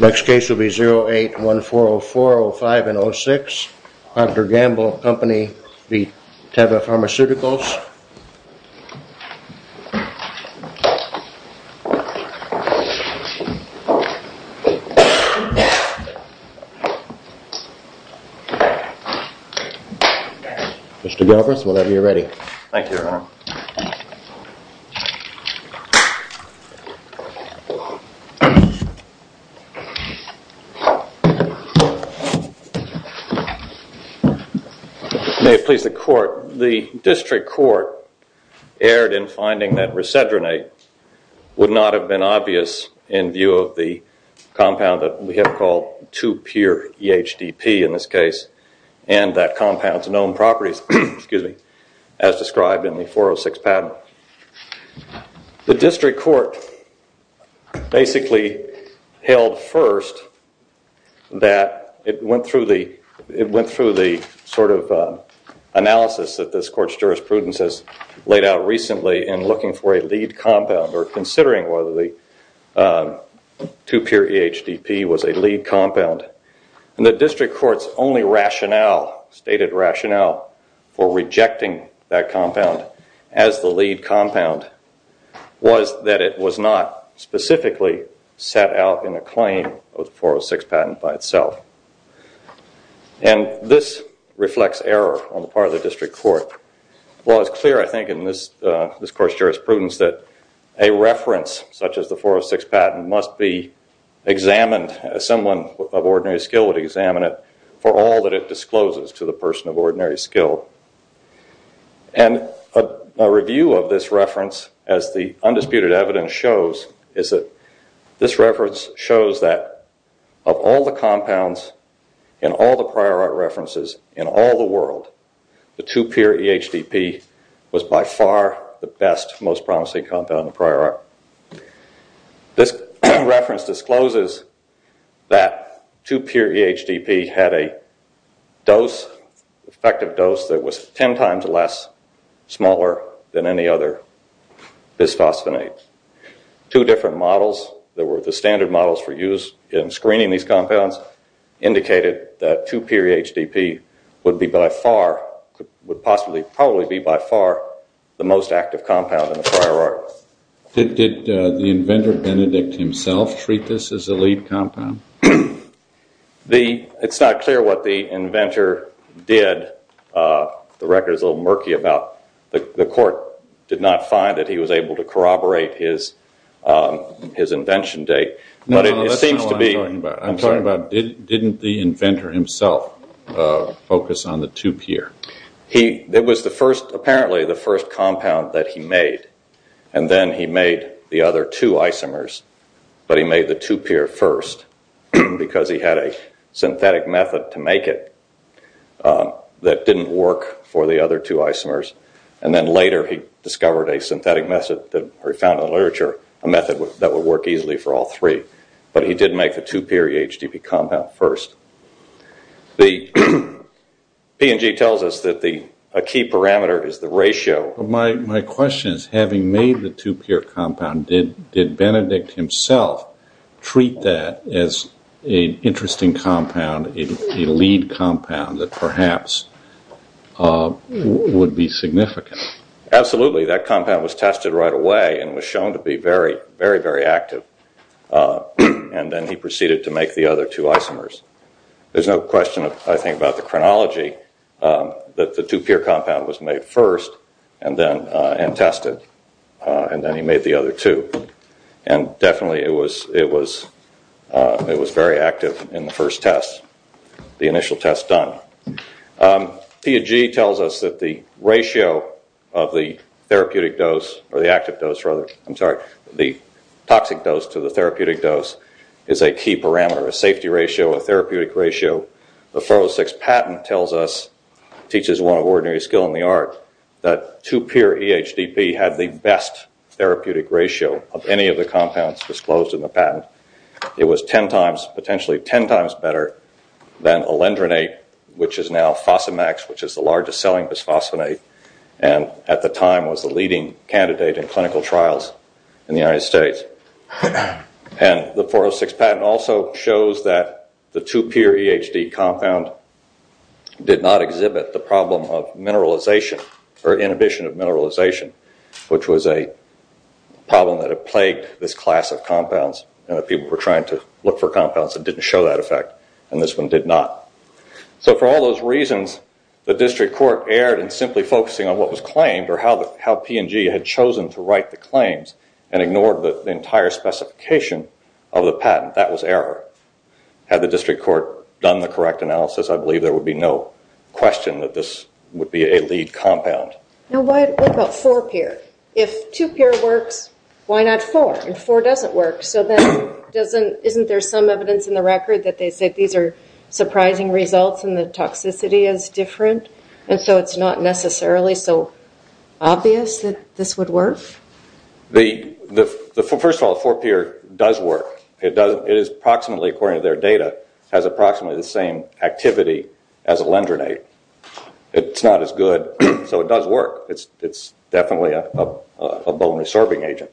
Next case will be 08-1404-05-06, Procter & Gamble v. TEVA Pharmaceuticals. Mr. Galbraith, whenever you're ready. Thank you, Your Honor. May it please the Court, the District Court erred in finding that Resedronate would not have been obvious in view of the compound that we have called 2-pure EHDP in this case and that compound's known properties as described in the 406 patent. Now, the District Court basically held first that it went through the sort of analysis that this Court's jurisprudence has laid out recently in looking for a lead compound or considering whether the 2-pure EHDP was a lead compound and the District Court's only lead compound was that it was not specifically set out in a claim of the 406 patent by itself. And this reflects error on the part of the District Court. While it's clear, I think, in this Court's jurisprudence that a reference such as the 406 patent must be examined, someone of ordinary skill would examine it, for all that it discloses to the person of ordinary skill. And a review of this reference, as the undisputed evidence shows, is that this reference shows that of all the compounds in all the prior art references in all the world, the 2-pure EHDP was by far the best, most promising compound in the prior art. This reference discloses that 2-pure EHDP had a dose, effective dose, that was ten times less, smaller than any other bisphosphonates. Two different models that were the standard models for use in screening these compounds indicated that 2-pure EHDP would be by far, would possibly, probably be by far the most active compound in the prior art. Did the inventor, Benedict himself, treat this as a lead compound? It's not clear what the inventor did. The record is a little murky about the court did not find that he was able to corroborate his invention date. No, that's not what I'm talking about. I'm sorry. I'm talking about didn't the inventor himself focus on the 2-pure? He, it was the first, apparently the first compound that he made. And then he made the other two isomers, but he made the 2-pure first because he had a synthetic method to make it that didn't work for the other two isomers. And then later he discovered a synthetic method, or he found in the literature, a method that would work easily for all three. But he did make the 2-pure EHDP compound first. The P&G tells us that a key parameter is the ratio. My question is, having made the 2-pure compound, did Benedict himself treat that as an interesting compound, a lead compound that perhaps would be significant? Absolutely. That compound was tested right away and was shown to be very, very, very active. And then he proceeded to make the other two isomers. There's no question, I think, about the chronology that the 2-pure compound was made first and then, and tested, and then he made the other two. And definitely it was, it was, it was very active in the first test, the initial test done. P&G tells us that the ratio of the therapeutic dose, or the active dose rather, I'm sorry, the toxic dose to the therapeutic dose is a key parameter, a safety ratio, a therapeutic ratio. The Ferro-6 patent tells us, teaches one of ordinary skill in the art, that 2-pure EHDP had the best therapeutic ratio of any of the compounds disclosed in the patent. It was 10 times, potentially 10 times better than alendronate, which is now Fosamax, which is the largest selling bisphosphonate, and at the time was the leading candidate in clinical trials in the United States. And the Ferro-6 patent also shows that the 2-pure EHD compound did not exhibit the problem of mineralization, or inhibition of mineralization, which was a problem that had plagued this class of compounds and that people were trying to look for compounds that didn't show that effect and this one did not. So for all those reasons, the district court erred in simply focusing on what was claimed or how P&G had chosen to write the claims and ignored the entire specification of the patent. That was error. Had the district court done the correct analysis, I believe there would be no question that this would be a lead compound. Now, what about 4-pure? If 2-pure works, why not 4, and 4 doesn't work? So then, isn't there some evidence in the record that they said these are surprising results and the toxicity is different, and so it's not necessarily so obvious that this would work? First of all, 4-pure does work. It is approximately, according to their data, has approximately the same activity as a lendronate. It's not as good, so it does work. It's definitely a bone resorbing agent,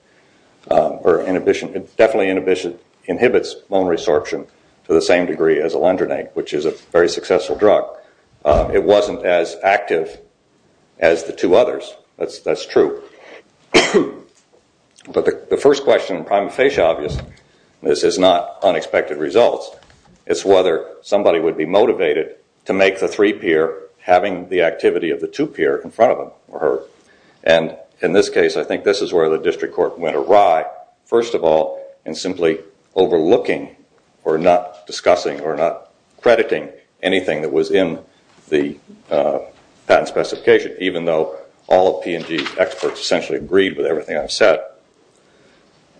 or definitely inhibits bone resorption to the very successful drug. It wasn't as active as the two others. That's true. But the first question in prima facie, obviously, this is not unexpected results. It's whether somebody would be motivated to make the 3-pure having the activity of the 2-pure in front of them or her. And in this case, I think this is where the district court went awry. First of all, in simply overlooking or not discussing or not crediting anything that was in the patent specification, even though all of P&G's experts essentially agreed with everything I've said.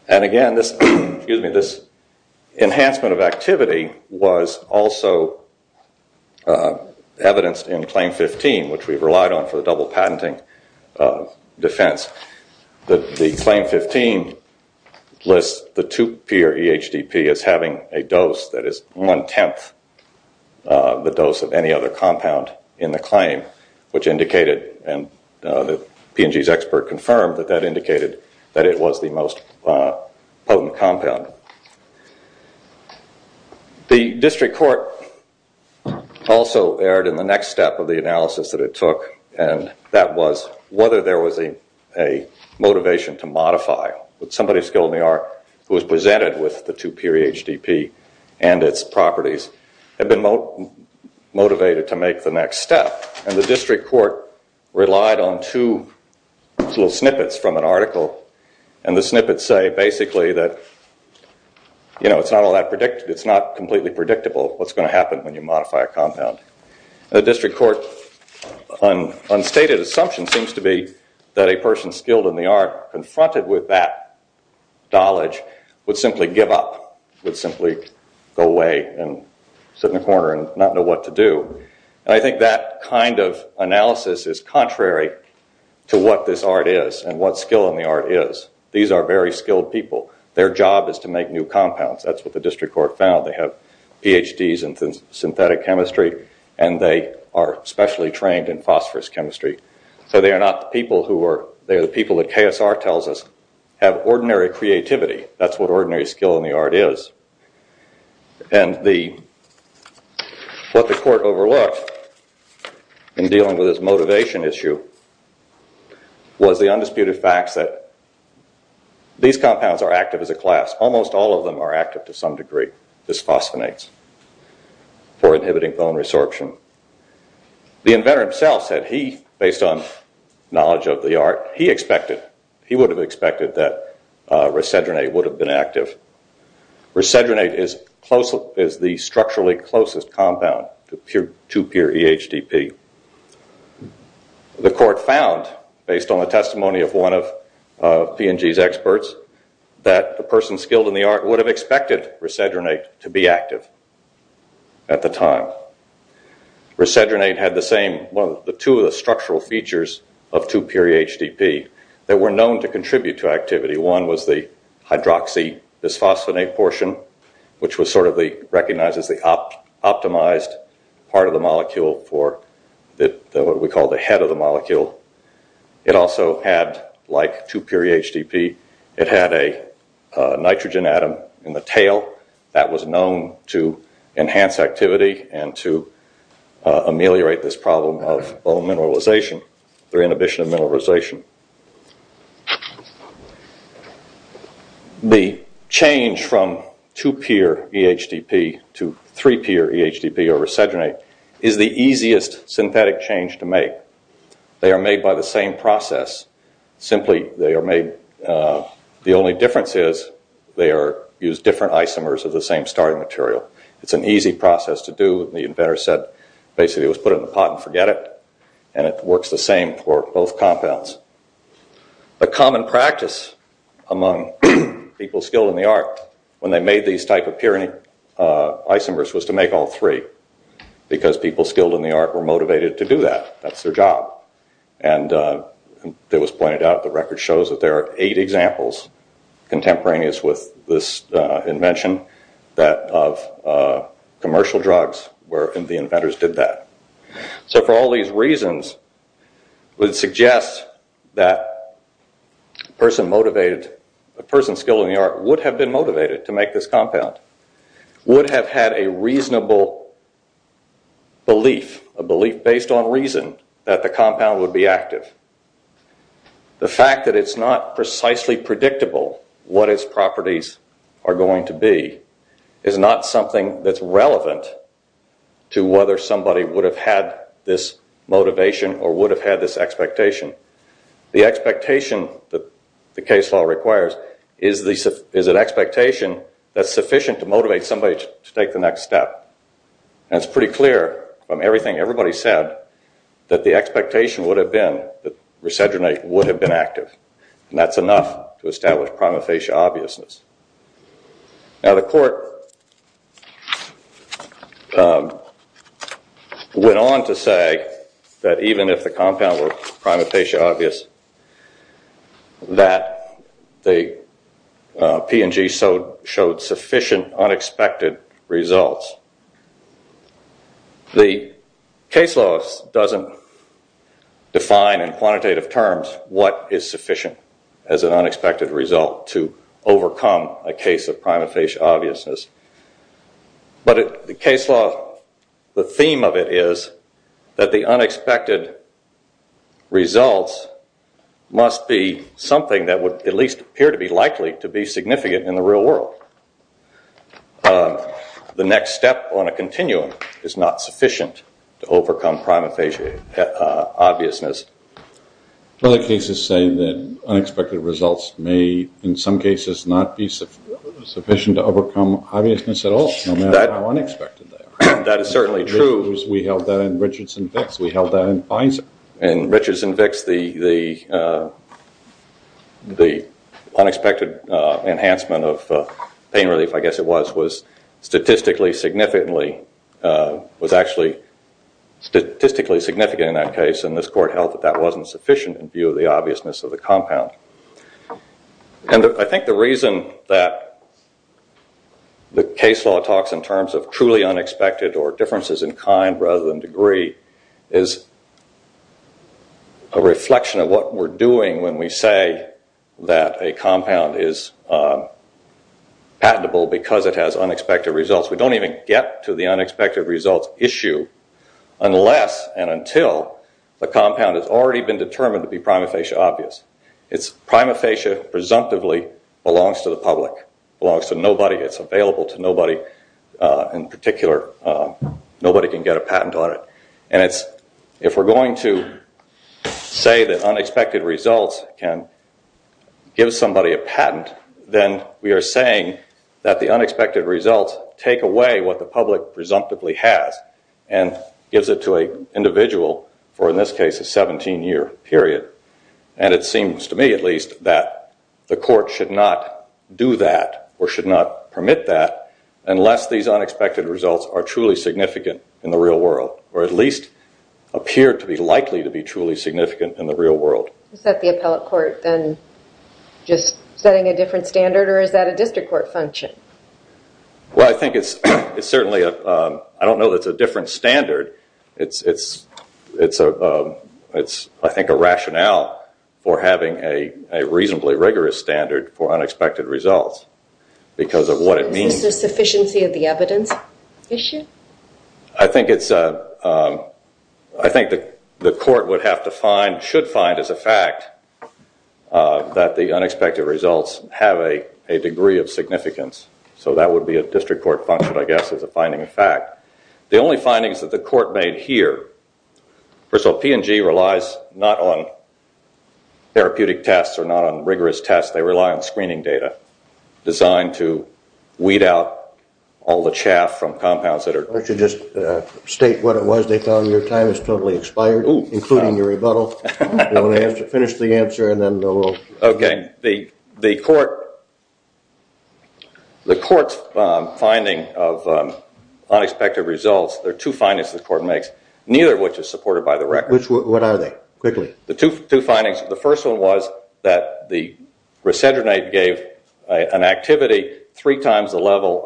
And again, this enhancement of activity was also evidenced in Claim 15, which we've relied on for the double patenting defense. The Claim 15 lists the 2-pure EHDP as having a dose that is one-tenth the dose of any other compound in the claim, which indicated, and the P&G's expert confirmed, that that indicated that it was the most potent compound. The district court also erred in the next step of the analysis that it took, and that was whether there was a motivation to modify. Somebody skilled in the art who was presented with the 2-pure EHDP and its properties had been motivated to make the next step, and the district court relied on two little snippets from an article, and the snippets say, basically, that it's not completely predictable what's going to happen when you modify a compound. The district court's unstated assumption seems to be that a person skilled in the art confronted with that knowledge would simply give up, would simply go away and sit in a corner and not know what to do, and I think that kind of analysis is contrary to what this art is and what skill in the art is. These are very skilled people. Their job is to make new compounds. That's what the district court found. They have PhDs in synthetic chemistry, and they are specially trained in phosphorous chemistry, so they are not the people who are, they are the people that KSR tells us have ordinary creativity. That's what ordinary skill in the art is, and what the court overlooked in dealing with this motivation issue was the undisputed fact that these compounds are active as a class. Almost all of them are active to some degree. This phosphonates for inhibiting bone resorption. The inventor himself said he, based on knowledge of the art, he expected, he would have expected that resedronate would have been active. Resedronate is the structurally closest compound to pure EHDP. The court found, based on the testimony of one of P&G's experts, that a person skilled in the art would have expected resedronate to be active at the time. Resedronate had the same, well, the two of the structural features of 2-pure EHDP that were known to contribute to activity. One was the hydroxy bisphosphonate portion, which was sort of the, recognized as the optimized part of the molecule for what we call the head of the molecule. It also had, like 2-pure EHDP, it had a nitrogen atom in the tail that was known to enhance activity and to ameliorate this problem of bone mineralization through inhibition of mineralization. The change from 2-pure EHDP to 3-pure EHDP or resedronate is the easiest synthetic change to make. They are made by the same process, simply they are made, the only difference is they are used different isomers of the same starting material. It's an easy process to do, the inventor said, basically it was put in a pot and forget it and it works the same for both compounds. The common practice among people skilled in the art when they made these type of purine isomers was to make all three because people skilled in the art were motivated to do that, that's their job. It was pointed out, the record shows that there are eight examples contemporaneous with this invention of commercial drugs where the inventors did that. So for all these reasons, it would suggest that a person skilled in the art would have been motivated to make this compound, would have had a reasonable belief, a belief based on reason that the compound would be active. The fact that it's not precisely predictable what its properties are going to be is not something that's relevant to whether somebody would have had this motivation or would have had this expectation. The expectation that the case law requires is an expectation that's sufficient to motivate somebody to take the next step. It's pretty clear from everything everybody said that the expectation would have been that Resedronate would have been active and that's enough to establish prima facie obviousness. Now, the court went on to say that even if the compound were prima facie obvious, that the P&G showed sufficient unexpected results. The case law doesn't define in quantitative terms what is sufficient as an unexpected result to overcome a case of prima facie obviousness. But the case law, the theme of it is that the unexpected results must be something that would at least appear to be likely to be significant in the real world. The next step on a continuum is not sufficient to overcome prima facie obviousness. Other cases say that unexpected results may, in some cases, not be sufficient to overcome obviousness at all, no matter how unexpected they are. That is certainly true. We held that in Richards and Vicks. We held that in Fines. In Richards and Vicks, the unexpected enhancement of pain relief, I guess it was, was statistically significantly, was actually statistically significant in that case and this court held that that wasn't sufficient in view of the obviousness of the compound. I think the reason that the case law talks in terms of truly unexpected or differences in kind rather than degree is a reflection of what we're doing when we say that a compound is patentable because it has unexpected results. We don't even get to the unexpected results issue unless and until the compound has already been determined to be prima facie obvious. It's prima facie presumptively belongs to the public, belongs to nobody, it's available to nobody in particular. Nobody can get a patent on it. If we're going to say that unexpected results can give somebody a patent, then we are saying that the unexpected results take away what the public presumptively has and gives it to an individual for, in this case, a 17-year period. It seems to me, at least, that the court should not do that or should not permit that unless these unexpected results are truly significant in the real world or at least appear to be likely to be truly significant in the real world. Is that the appellate court then just setting a different standard or is that a district court function? Well, I think it's certainly a different standard. It's I think a rationale for having a reasonably rigorous standard for unexpected results because of what it means. Is this a sufficiency of the evidence issue? I think the court should find as a fact that the unexpected results have a degree of significance. So that would be a district court function, I guess, as a finding of fact. The only findings that the court made here, first of all, P&G relies not on therapeutic tests or not on rigorous tests. They rely on screening data designed to weed out all the chaff from compounds that are... Why don't you just state what it was they found your time has totally expired, including your rebuttal. You want to finish the answer and then we'll... Okay. The court's finding of unexpected results, there are two findings the court makes, neither of which is supported by the record. What are they? Quickly. The two findings, the first one was that the resendronate gave an activity three times the level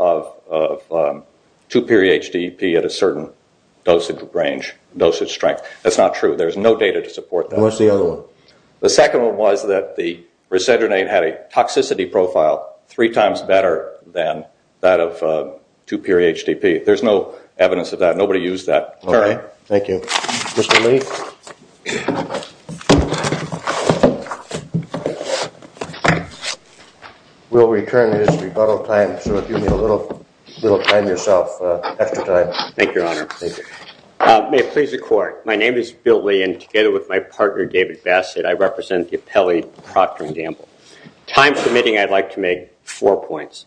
of 2-period HDPE at a certain dosage range, dosage strength. That's not true. There's no data to support that. What's the other one? The second one was that the resendronate had a toxicity profile three times better than that of 2-period HDPE. There's no evidence of that. Nobody used that. Okay. Thank you. Mr. Lee? We'll return to this rebuttal time, so if you need a little time yourself after time. Thank you, Your Honor. Thank you. May it please the court. My name is Bill Lee and together with my partner, David Bassett, I represent the appellee, Procter and Gamble. Time permitting, I'd like to make four points.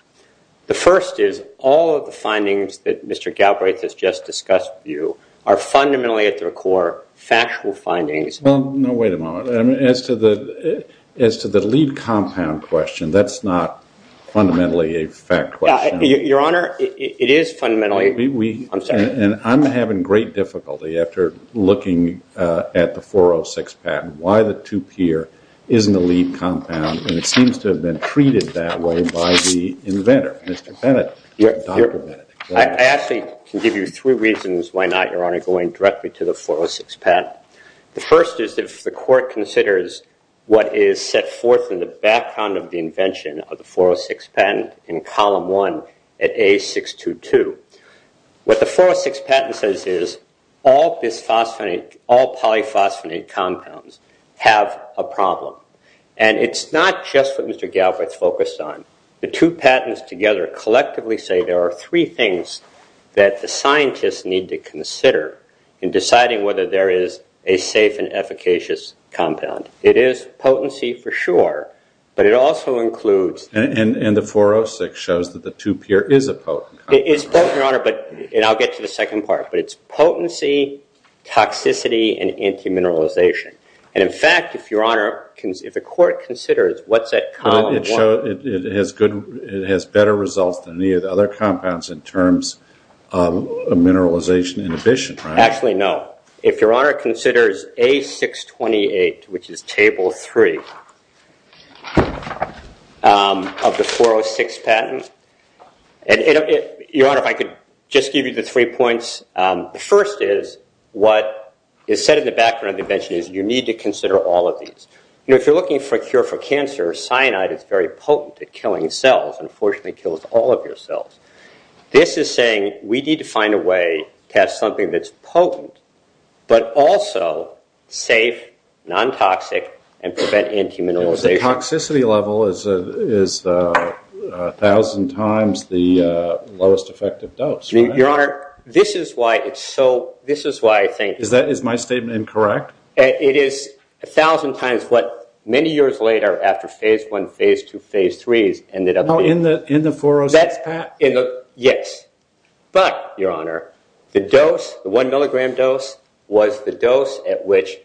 The first is all of the findings that Mr. Galbraith has just discussed with you are fundamentally, at their core, factual findings. No, wait a moment. As to the lead compound question, that's not fundamentally a fact question. Your Honor, it is fundamentally. I'm sorry. I'm having great difficulty after looking at the 406 patent, why the 2-peer isn't a lead compound. It seems to have been treated that way by the inventor, Mr. Bennett, Dr. Bennett. I actually can give you three reasons why not, Your Honor, going directly to the 406 patent. The first is if the court considers what is set forth in the background of the invention of the 406 patent in column one at A622. What the 406 patent says is all bisphosphonate, all polyphosphonate compounds have a problem. It's not just what Mr. Galbraith focused on. The two patents together collectively say there are three things that the scientists need to consider in deciding whether there is a safe and efficacious compound. It is potency for sure, but it also includes- And the 406 shows that the 2-peer is a potent compound. It's potent, Your Honor, and I'll get to the second part, but it's potency, toxicity, and anti-mineralization. In fact, if Your Honor, if the court considers what's at column one- It has better results than any of the other compounds in terms of mineralization inhibition, right? Actually, no. If Your Honor considers A628, which is table three of the 406 patent, and Your Honor, if I could just give you the three points. The first is what is said in the background of the invention is you need to consider all of these. If you're looking for a cure for cancer, cyanide is very potent at killing cells, and unfortunately kills all of your cells. This is saying we need to find a way to have something that's potent, but also safe, non-toxic, and prevent anti-mineralization. The toxicity level is 1,000 times the lowest effective dose. Your Honor, this is why it's so... This is why I think- Is my statement incorrect? It is 1,000 times what many years later, after phase one, phase two, phase three's ended up being. In the 406 patent? Yes, but Your Honor, the dose, the one milligram dose, was the dose at which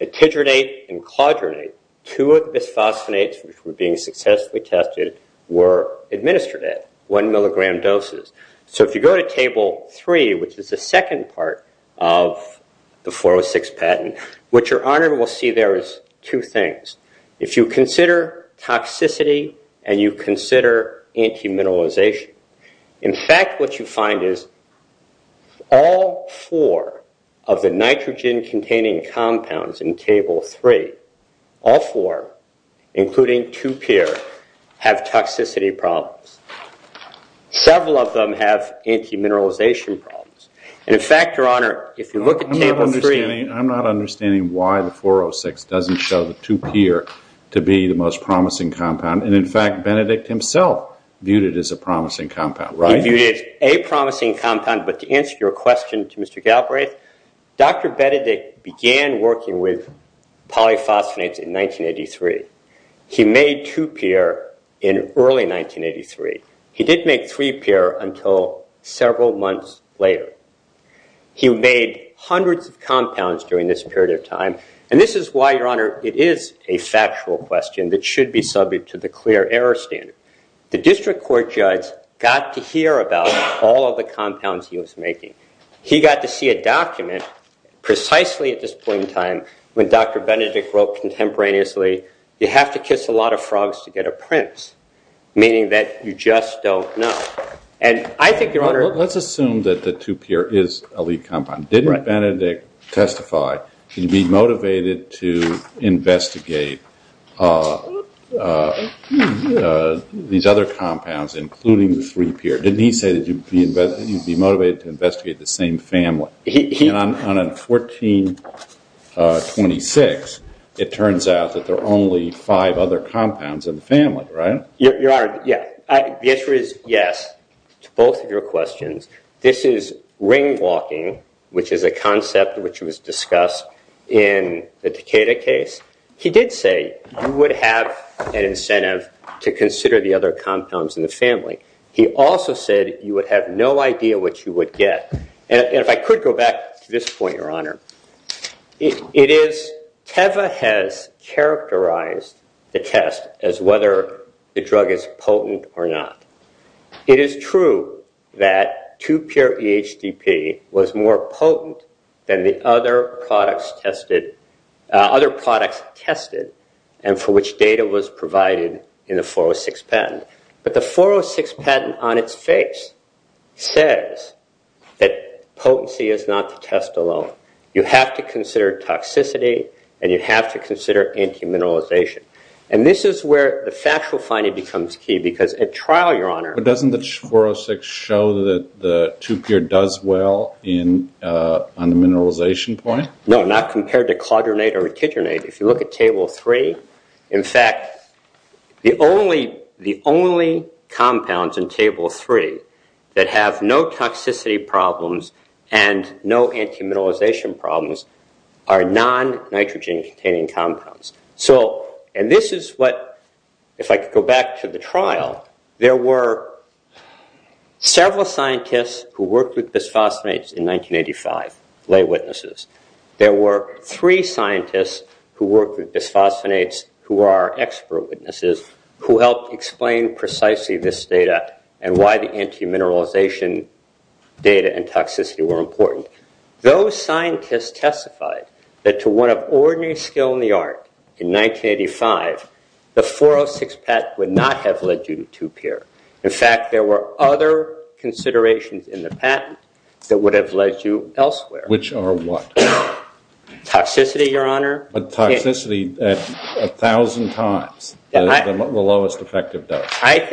titranate and clodranate, two of the bisphosphonates which were being successfully tested, were administered at one milligram doses. If you go to table three, which is the second part of the 406 patent, what Your Honor will see there is two things. If you consider toxicity and you consider anti-mineralization, in fact what you find is all four of the nitrogen-containing compounds in table three, all four, including 2-Pyr, have toxicity problems. Several of them have anti-mineralization problems. In fact, Your Honor, if you look at table three- I'm not understanding why the 406 doesn't show the 2-Pyr to be the most promising compound. In fact, Benedict himself viewed it as a promising compound, right? He viewed it as a promising compound, but to answer your question to Mr. Galbraith, Dr. Benedict began working with polyphosphonates in 1983. He made 2-Pyr in early 1983. He didn't make 3-Pyr until several months later. He made hundreds of compounds during this period of time, and this is why, Your Honor, it is a factual question that should be subject to the clear error standard. The district court judge got to hear about all of the compounds he was making. He got to see a document precisely at this point in time when Dr. Benedict wrote contemporaneously, you have to kiss a lot of frogs to get a prince, meaning that you just don't know. And I think, Your Honor- Let's assume that the 2-Pyr is a lead compound. Didn't Benedict testify that he'd be motivated to investigate these other compounds, including the 3-Pyr? Didn't he say that he'd be motivated to investigate the same family? And on 1426, it turns out that there are only five other compounds in the family, right? Your Honor, the answer is yes to both of your questions. This is ring walking, which is a concept which was discussed in the Takeda case. He did say you would have an incentive to consider the other compounds in the family. He also said you would have no idea what you would get. And if I could go back to this point, Your Honor, it is Teva has characterized the test as whether the drug is potent or not. It is true that 2-Pyr EHDP was more potent than the other products tested and for which data was provided in the 406 patent. But the 406 patent on its face says that potency is not the test alone. You have to consider toxicity and you have to consider anti-mineralization. And this is where the factual finding becomes key because at trial, Your Honor- But doesn't the 406 show that the 2-Pyr does well on the mineralization point? No, not compared to clodronate or retigernate. If you look at Table 3, in fact, the only compounds in Table 3 that have no toxicity problems and no anti-mineralization problems are non-nitrogen containing compounds. So, and this is what, if I could go back to the trial, there were several scientists who worked with bisphosphonates in 1985, lay witnesses. There were three scientists who worked with bisphosphonates who are expert witnesses who helped explain precisely this data and why the anti-mineralization data and toxicity were important. Those scientists testified that to one of ordinary skill in the art in 1985, the 406 patent would not have led you to 2-Pyr. In fact, there were other considerations in the patent that would have led you elsewhere. Which are what? Toxicity, Your Honor. But toxicity a thousand times the lowest effective dose.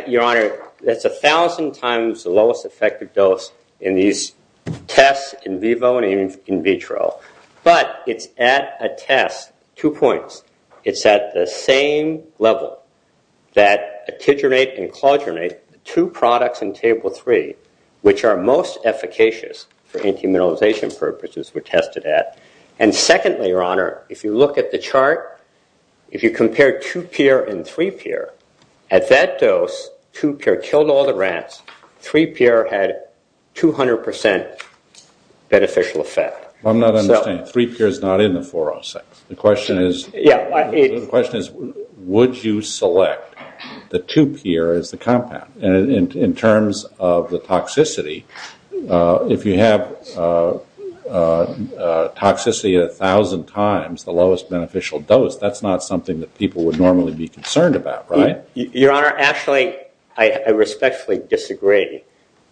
Your Honor, that's a thousand times the lowest effective dose in these tests in vivo and in vitro. But it's at a test, two points, it's at the same level that retigernate and clodronate, the two products in Table 3 which are most efficacious for anti-mineralization purposes were tested at. And secondly, Your Honor, if you look at the chart, if you compare 2-Pyr and 3-Pyr, at that dose, 2-Pyr killed all the rats. 3-Pyr had 200% beneficial effect. I'm not understanding. 3-Pyr is not in the 406. The question is, would you select the 2-Pyr as the compound? And in terms of the toxicity, if you have toxicity a thousand times the lowest beneficial dose, that's not something that people would normally be concerned about, right? Your Honor, actually, I respectfully disagree.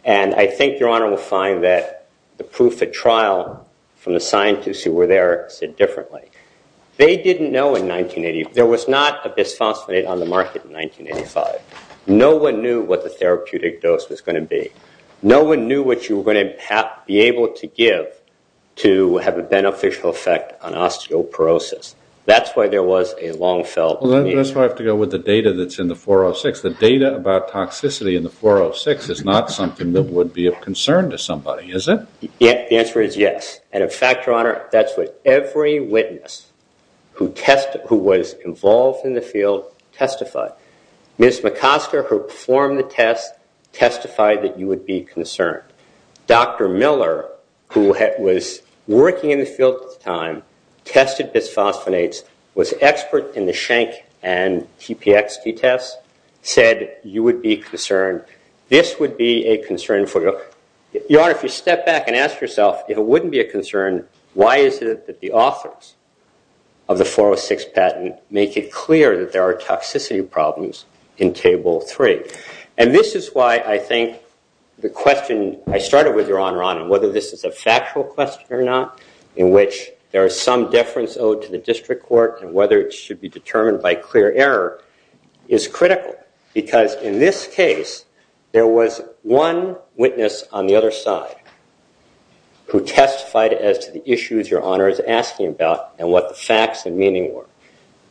And I think Your Honor will find that the proof at trial from the scientists who were there said differently. They didn't know in 1980, there was not a bisphosphonate on the market in 1985. No one knew what the therapeutic dose was going to be. No one knew what you were going to be able to give to have a beneficial effect on osteoporosis. That's why there was a long-felt need. But that's why I have to go with the data that's in the 406. The data about toxicity in the 406 is not something that would be of concern to somebody, is it? The answer is yes. And in fact, Your Honor, that's what every witness who was involved in the field testified. Ms. McOsker, who performed the test, testified that you would be concerned. Dr. Miller, who was working in the field at the time, tested bisphosphonates, was an expert in the Schenck and TPXT tests, said you would be concerned. This would be a concern for you. Your Honor, if you step back and ask yourself, if it wouldn't be a concern, why is it that the authors of the 406 patent make it clear that there are toxicity problems in Table 3? And this is why I think the question I started with, Your Honor, on whether this is a factual question or not, in which there is some deference owed to the district court and whether it should be determined by clear error, is critical. Because in this case, there was one witness on the other side who testified as to the issues Your Honor is asking about and what the facts and meaning were.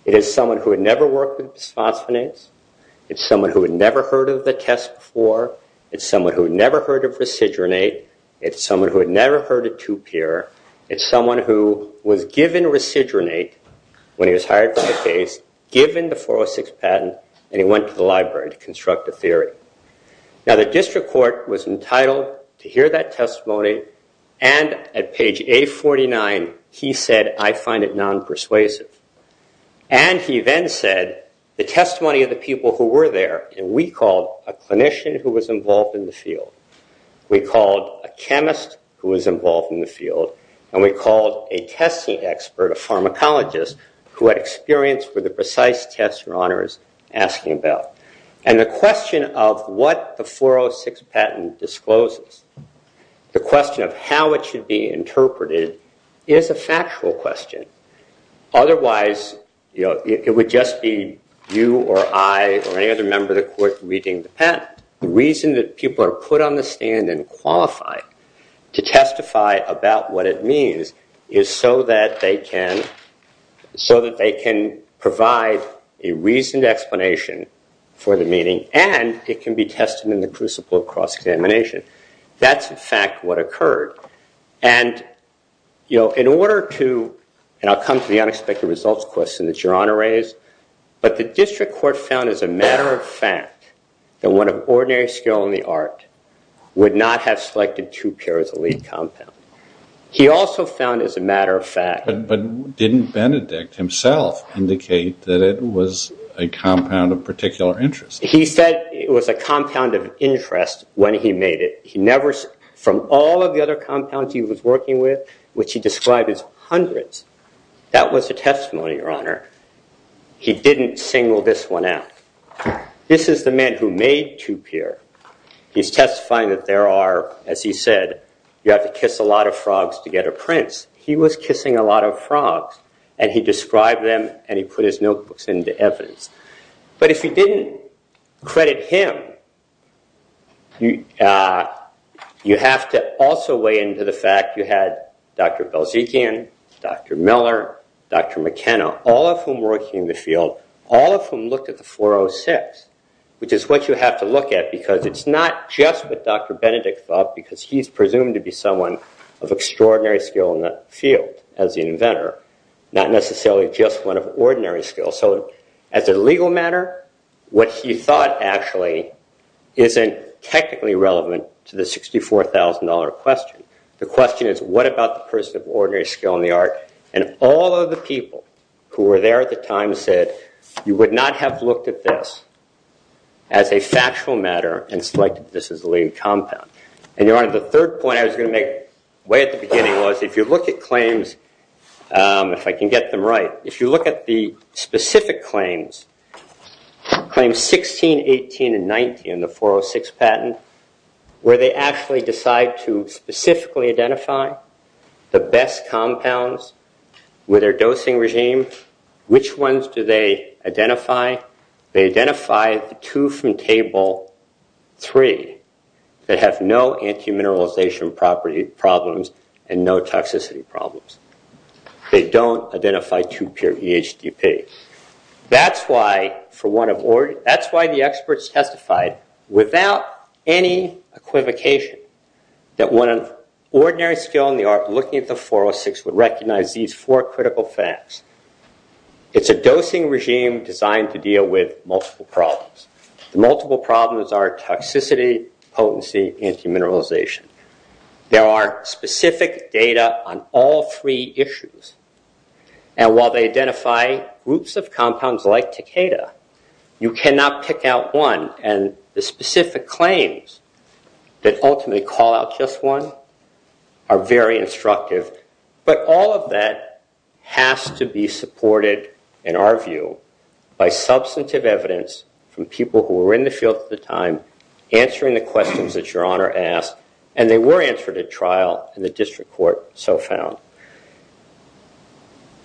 It is someone who had never worked with bisphosphonates. It is someone who had never heard of the test before. It is someone who had never heard of residronate. It is someone who had never heard of 2PIR. It is someone who was given residronate when he was hired for the case, given the 406 patent, and he went to the library to construct a theory. Now, the district court was entitled to hear that testimony, and at page 849, he said, I find it non-persuasive. And he then said, the testimony of the people who were there, and we called a clinician who was involved in the field, we called a chemist who was involved in the field, and we called a testing expert, a pharmacologist, who had experience with the precise tests Your Honor is asking about. And the question of what the 406 patent discloses, the question of how it should be interpreted, is a factual question. Otherwise, it would just be you or I or any other member of the court reading the patent. The reason that people are put on the stand and qualified to testify about what it means is so that they can provide a reasoned explanation for the meaning, and it can be tested in the crucible of cross-examination. That's, in fact, what occurred. And in order to, and I'll come to the unexpected results question that Your Honor raised, but the district court found as a matter of fact that one of ordinary skill in the art would not have selected two pairs of lead compound. He also found as a matter of fact... But didn't Benedict himself indicate that it was a compound of particular interest? He said it was a compound of interest when he made it. From all of the other compounds he was working with, which he described as hundreds, that was a testimony, Your Honor. He didn't single this one out. This is the man who made two pair. He's testifying that there are, as he said, you have to kiss a lot of frogs to get a prince. He was kissing a lot of frogs, and he described them, and he put his notebooks into evidence. But if you didn't credit him, you have to also weigh into the fact you had Dr. Belzikian, Dr. Miller, Dr. McKenna, all of whom worked in the field, all of whom looked at the 406, which is what you have to look at because it's not just what Dr. Benedict thought because he's presumed to be someone of extraordinary skill in the field as the inventor, not necessarily just one of ordinary skill. So as a legal matter, what he thought actually isn't technically relevant to the $64,000 question. The question is what about the person of ordinary skill in the art, and all of the people who were there at the time said you would not have looked at this as a factual matter and selected this as the leading compound. And, Your Honor, the third point I was going to make way at the beginning was if you look at claims, if I can get them right, if you look at the specific claims, claims 16, 18, and 19, the 406 patent, where they actually decide to specifically identify the best compounds with their dosing regime, which ones do they identify? They identify the two from table three that have no anti-mineralization problems and no toxicity problems. They don't identify two pure EHDP. That's why the experts testified without any equivocation that one of ordinary skill in the art looking at the 406 would recognize these four critical facts. It's a dosing regime designed to deal with multiple problems. The multiple problems are toxicity, potency, anti-mineralization. There are specific data on all three issues. And while they identify groups of compounds like Takeda, you cannot pick out one. And the specific claims that ultimately call out just one are very instructive. But all of that has to be supported, in our view, by substantive evidence from people who were in the field at the time answering the questions that Your Honor asked. And they were answered at trial, and the district court so found.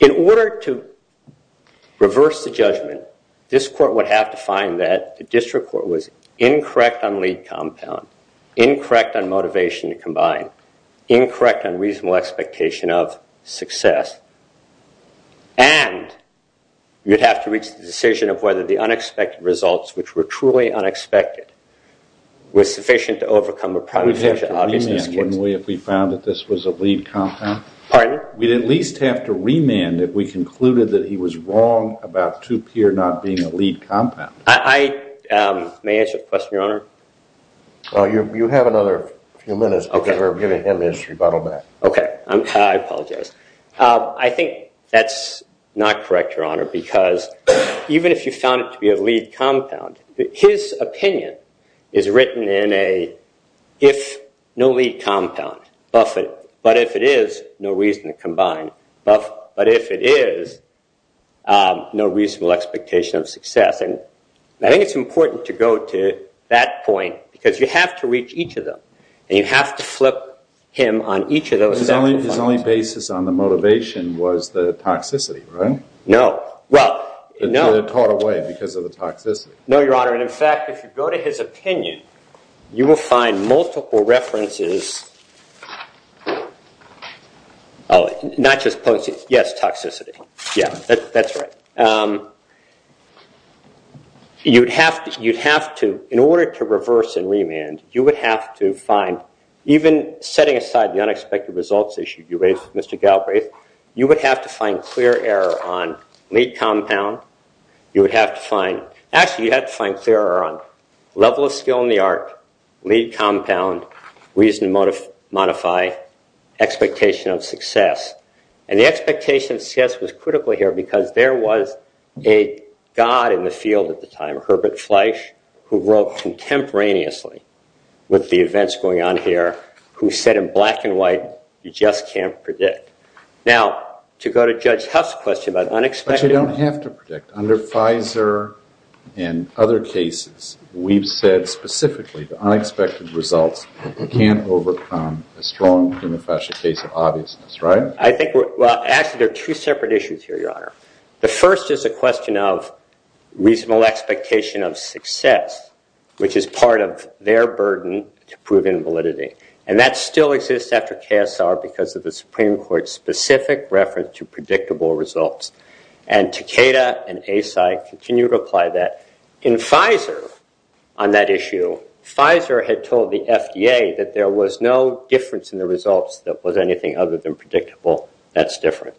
In order to reverse the judgment, this court would have to find that the district court was incorrect on lead compound, incorrect on motivation to combine, incorrect on reasonable expectation of success, and you'd have to reach the decision of whether the unexpected results, which were truly unexpected, were sufficient to overcome a prior decision. We'd have to remand, wouldn't we, if we found that this was a lead compound? Pardon? We'd at least have to remand if we concluded that he was wrong about two pure not being a lead compound. May I answer the question, Your Honor? You have another few minutes before giving him his rebuttal back. Okay. I apologize. I think that's not correct, Your Honor, because even if you found it to be a lead compound, his opinion is written in a if no lead compound, buff it. But if it is, no reason to combine. But if it is, no reasonable expectation of success. I think it's important to go to that point because you have to reach each of them and you have to flip him on each of those. His only basis on the motivation was the toxicity, right? No. They're taught away because of the toxicity. No, Your Honor. In fact, if you go to his opinion, you will find multiple references. Oh, not just potency. Yes, toxicity. Yeah, that's right. You'd have to, in order to reverse and remand, you would have to find, even setting aside the unexpected results issue you raised, Mr. Galbraith, you would have to find clear error on lead compound. You would have to find, actually, you have to find clear error on level of skill in the art, lead compound, reason to modify, expectation of success. And the expectation of success was critical here because there was a god in the field at the time, Herbert Fleisch, who wrote contemporaneously with the events going on here, who said in black and white, you just can't predict. Now, to go to Judge Huff's question about unexpected. But you don't have to predict. Under Pfizer and other cases, we've said specifically, the unexpected results can't overcome a strong prima facie case of obviousness, right? Actually, there are two separate issues here, Your Honor. The first is a question of reasonable expectation of success, which is part of their burden to prove invalidity. And that still exists after KSR because of the Supreme Court's specific reference to predictable results. And Takeda and ASI continue to apply that. In Pfizer, on that issue, Pfizer had told the FDA that there was no difference in the results that was anything other than predictable. That's different.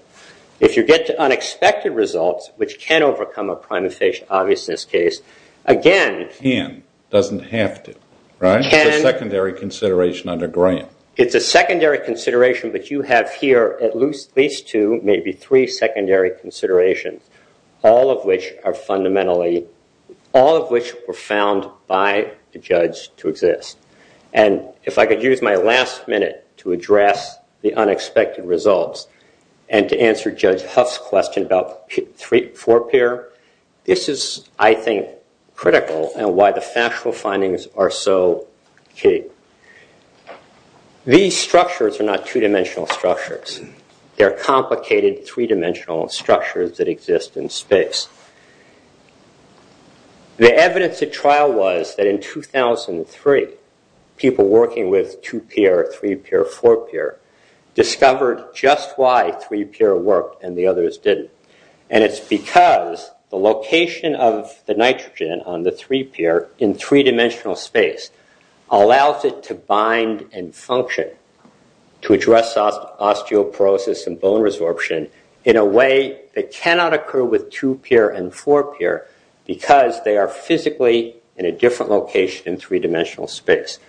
If you get to unexpected results, which can overcome a prima facie obviousness case, again. It can. It doesn't have to, right? It's a secondary consideration under Graham. All of which are fundamentally, all of which were found by the judge to exist. And if I could use my last minute to address the unexpected results and to answer Judge Huff's question about four-pair, this is, I think, critical in why the factual findings are so key. These structures are not two-dimensional structures. They're complicated three-dimensional structures that exist in space. The evidence at trial was that in 2003, people working with two-pair, three-pair, four-pair, discovered just why three-pair worked and the others didn't. And it's because the location of the nitrogen on the three-pair in three-dimensional space allowed it to bind and function to address osteoporosis and bone resorption in a way that cannot occur with two-pair and four-pair because they are physically in a different location in three-dimensional space.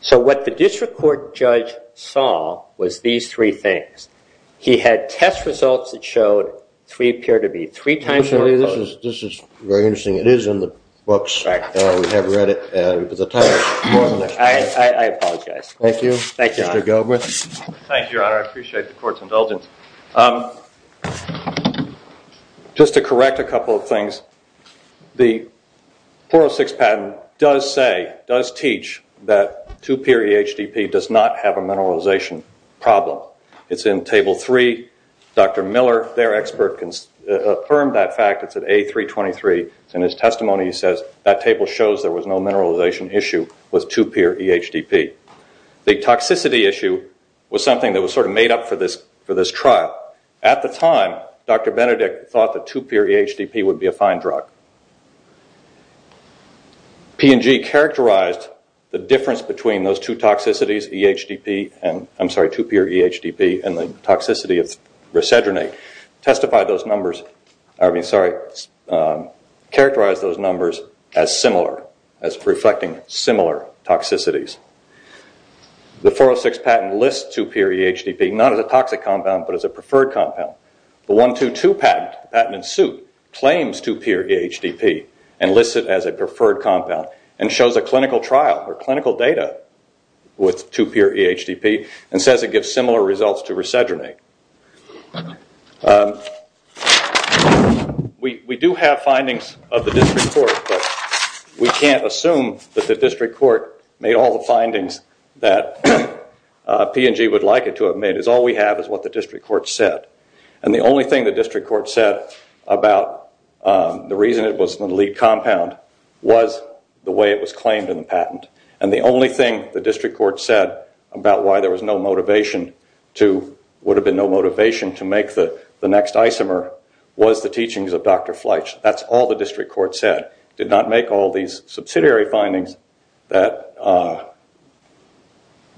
So what the district court judge saw was these three things. He had test results that showed three-pair to be three times more close. This is very interesting. It is in the books. We have read it. I apologize. Thank you, Your Honor. Mr. Gilbreath. Thank you, Your Honor. I appreciate the court's indulgence. Just to correct a couple of things, the 406 patent does say, does teach, that two-pair EHDP does not have a mineralization problem. It's in Table 3. Dr. Miller, their expert, affirmed that fact. It's in A323. In his testimony, he says, that table shows there was no mineralization issue with two-pair EHDP. The toxicity issue was something that was sort of made up for this trial. At the time, Dr. Benedict thought that two-pair EHDP would be a fine drug. P&G characterized the difference between those two toxicities, two-pair EHDP and the toxicity of Resedronate. Testify those numbers, I mean, sorry, characterize those numbers as similar, as reflecting similar toxicities. The 406 patent lists two-pair EHDP, not as a toxic compound, but as a preferred compound. The 122 patent, patent in suit, claims two-pair EHDP and lists it as a preferred compound and shows a clinical trial or clinical data with two-pair EHDP and says it gives similar results to Resedronate. We do have findings of the district court, but we can't assume that the district court made all the findings that P&G would like it to have made. All we have is what the district court said. The only thing the district court said about the reason it was the lead compound was the way it was claimed in the patent. The only thing the district court said about why there was no motivation to make the next isomer was the teachings of Dr. Fletch. That's all the district court said. It did not make all these subsidiary findings that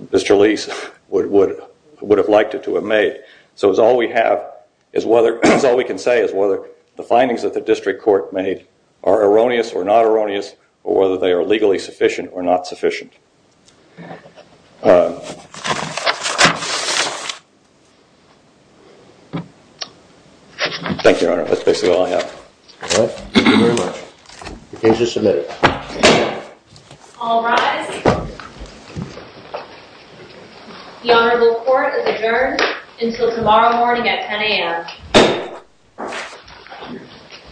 Mr. Leese would have liked it to have made. So all we can say is whether the findings that the district court made are erroneous or not erroneous or whether they are legally sufficient or not sufficient. Thank you, Your Honor. That's basically all I have. Thank you very much. The case is submitted. All rise. The Honorable Court is adjourned until tomorrow morning at 10 a.m.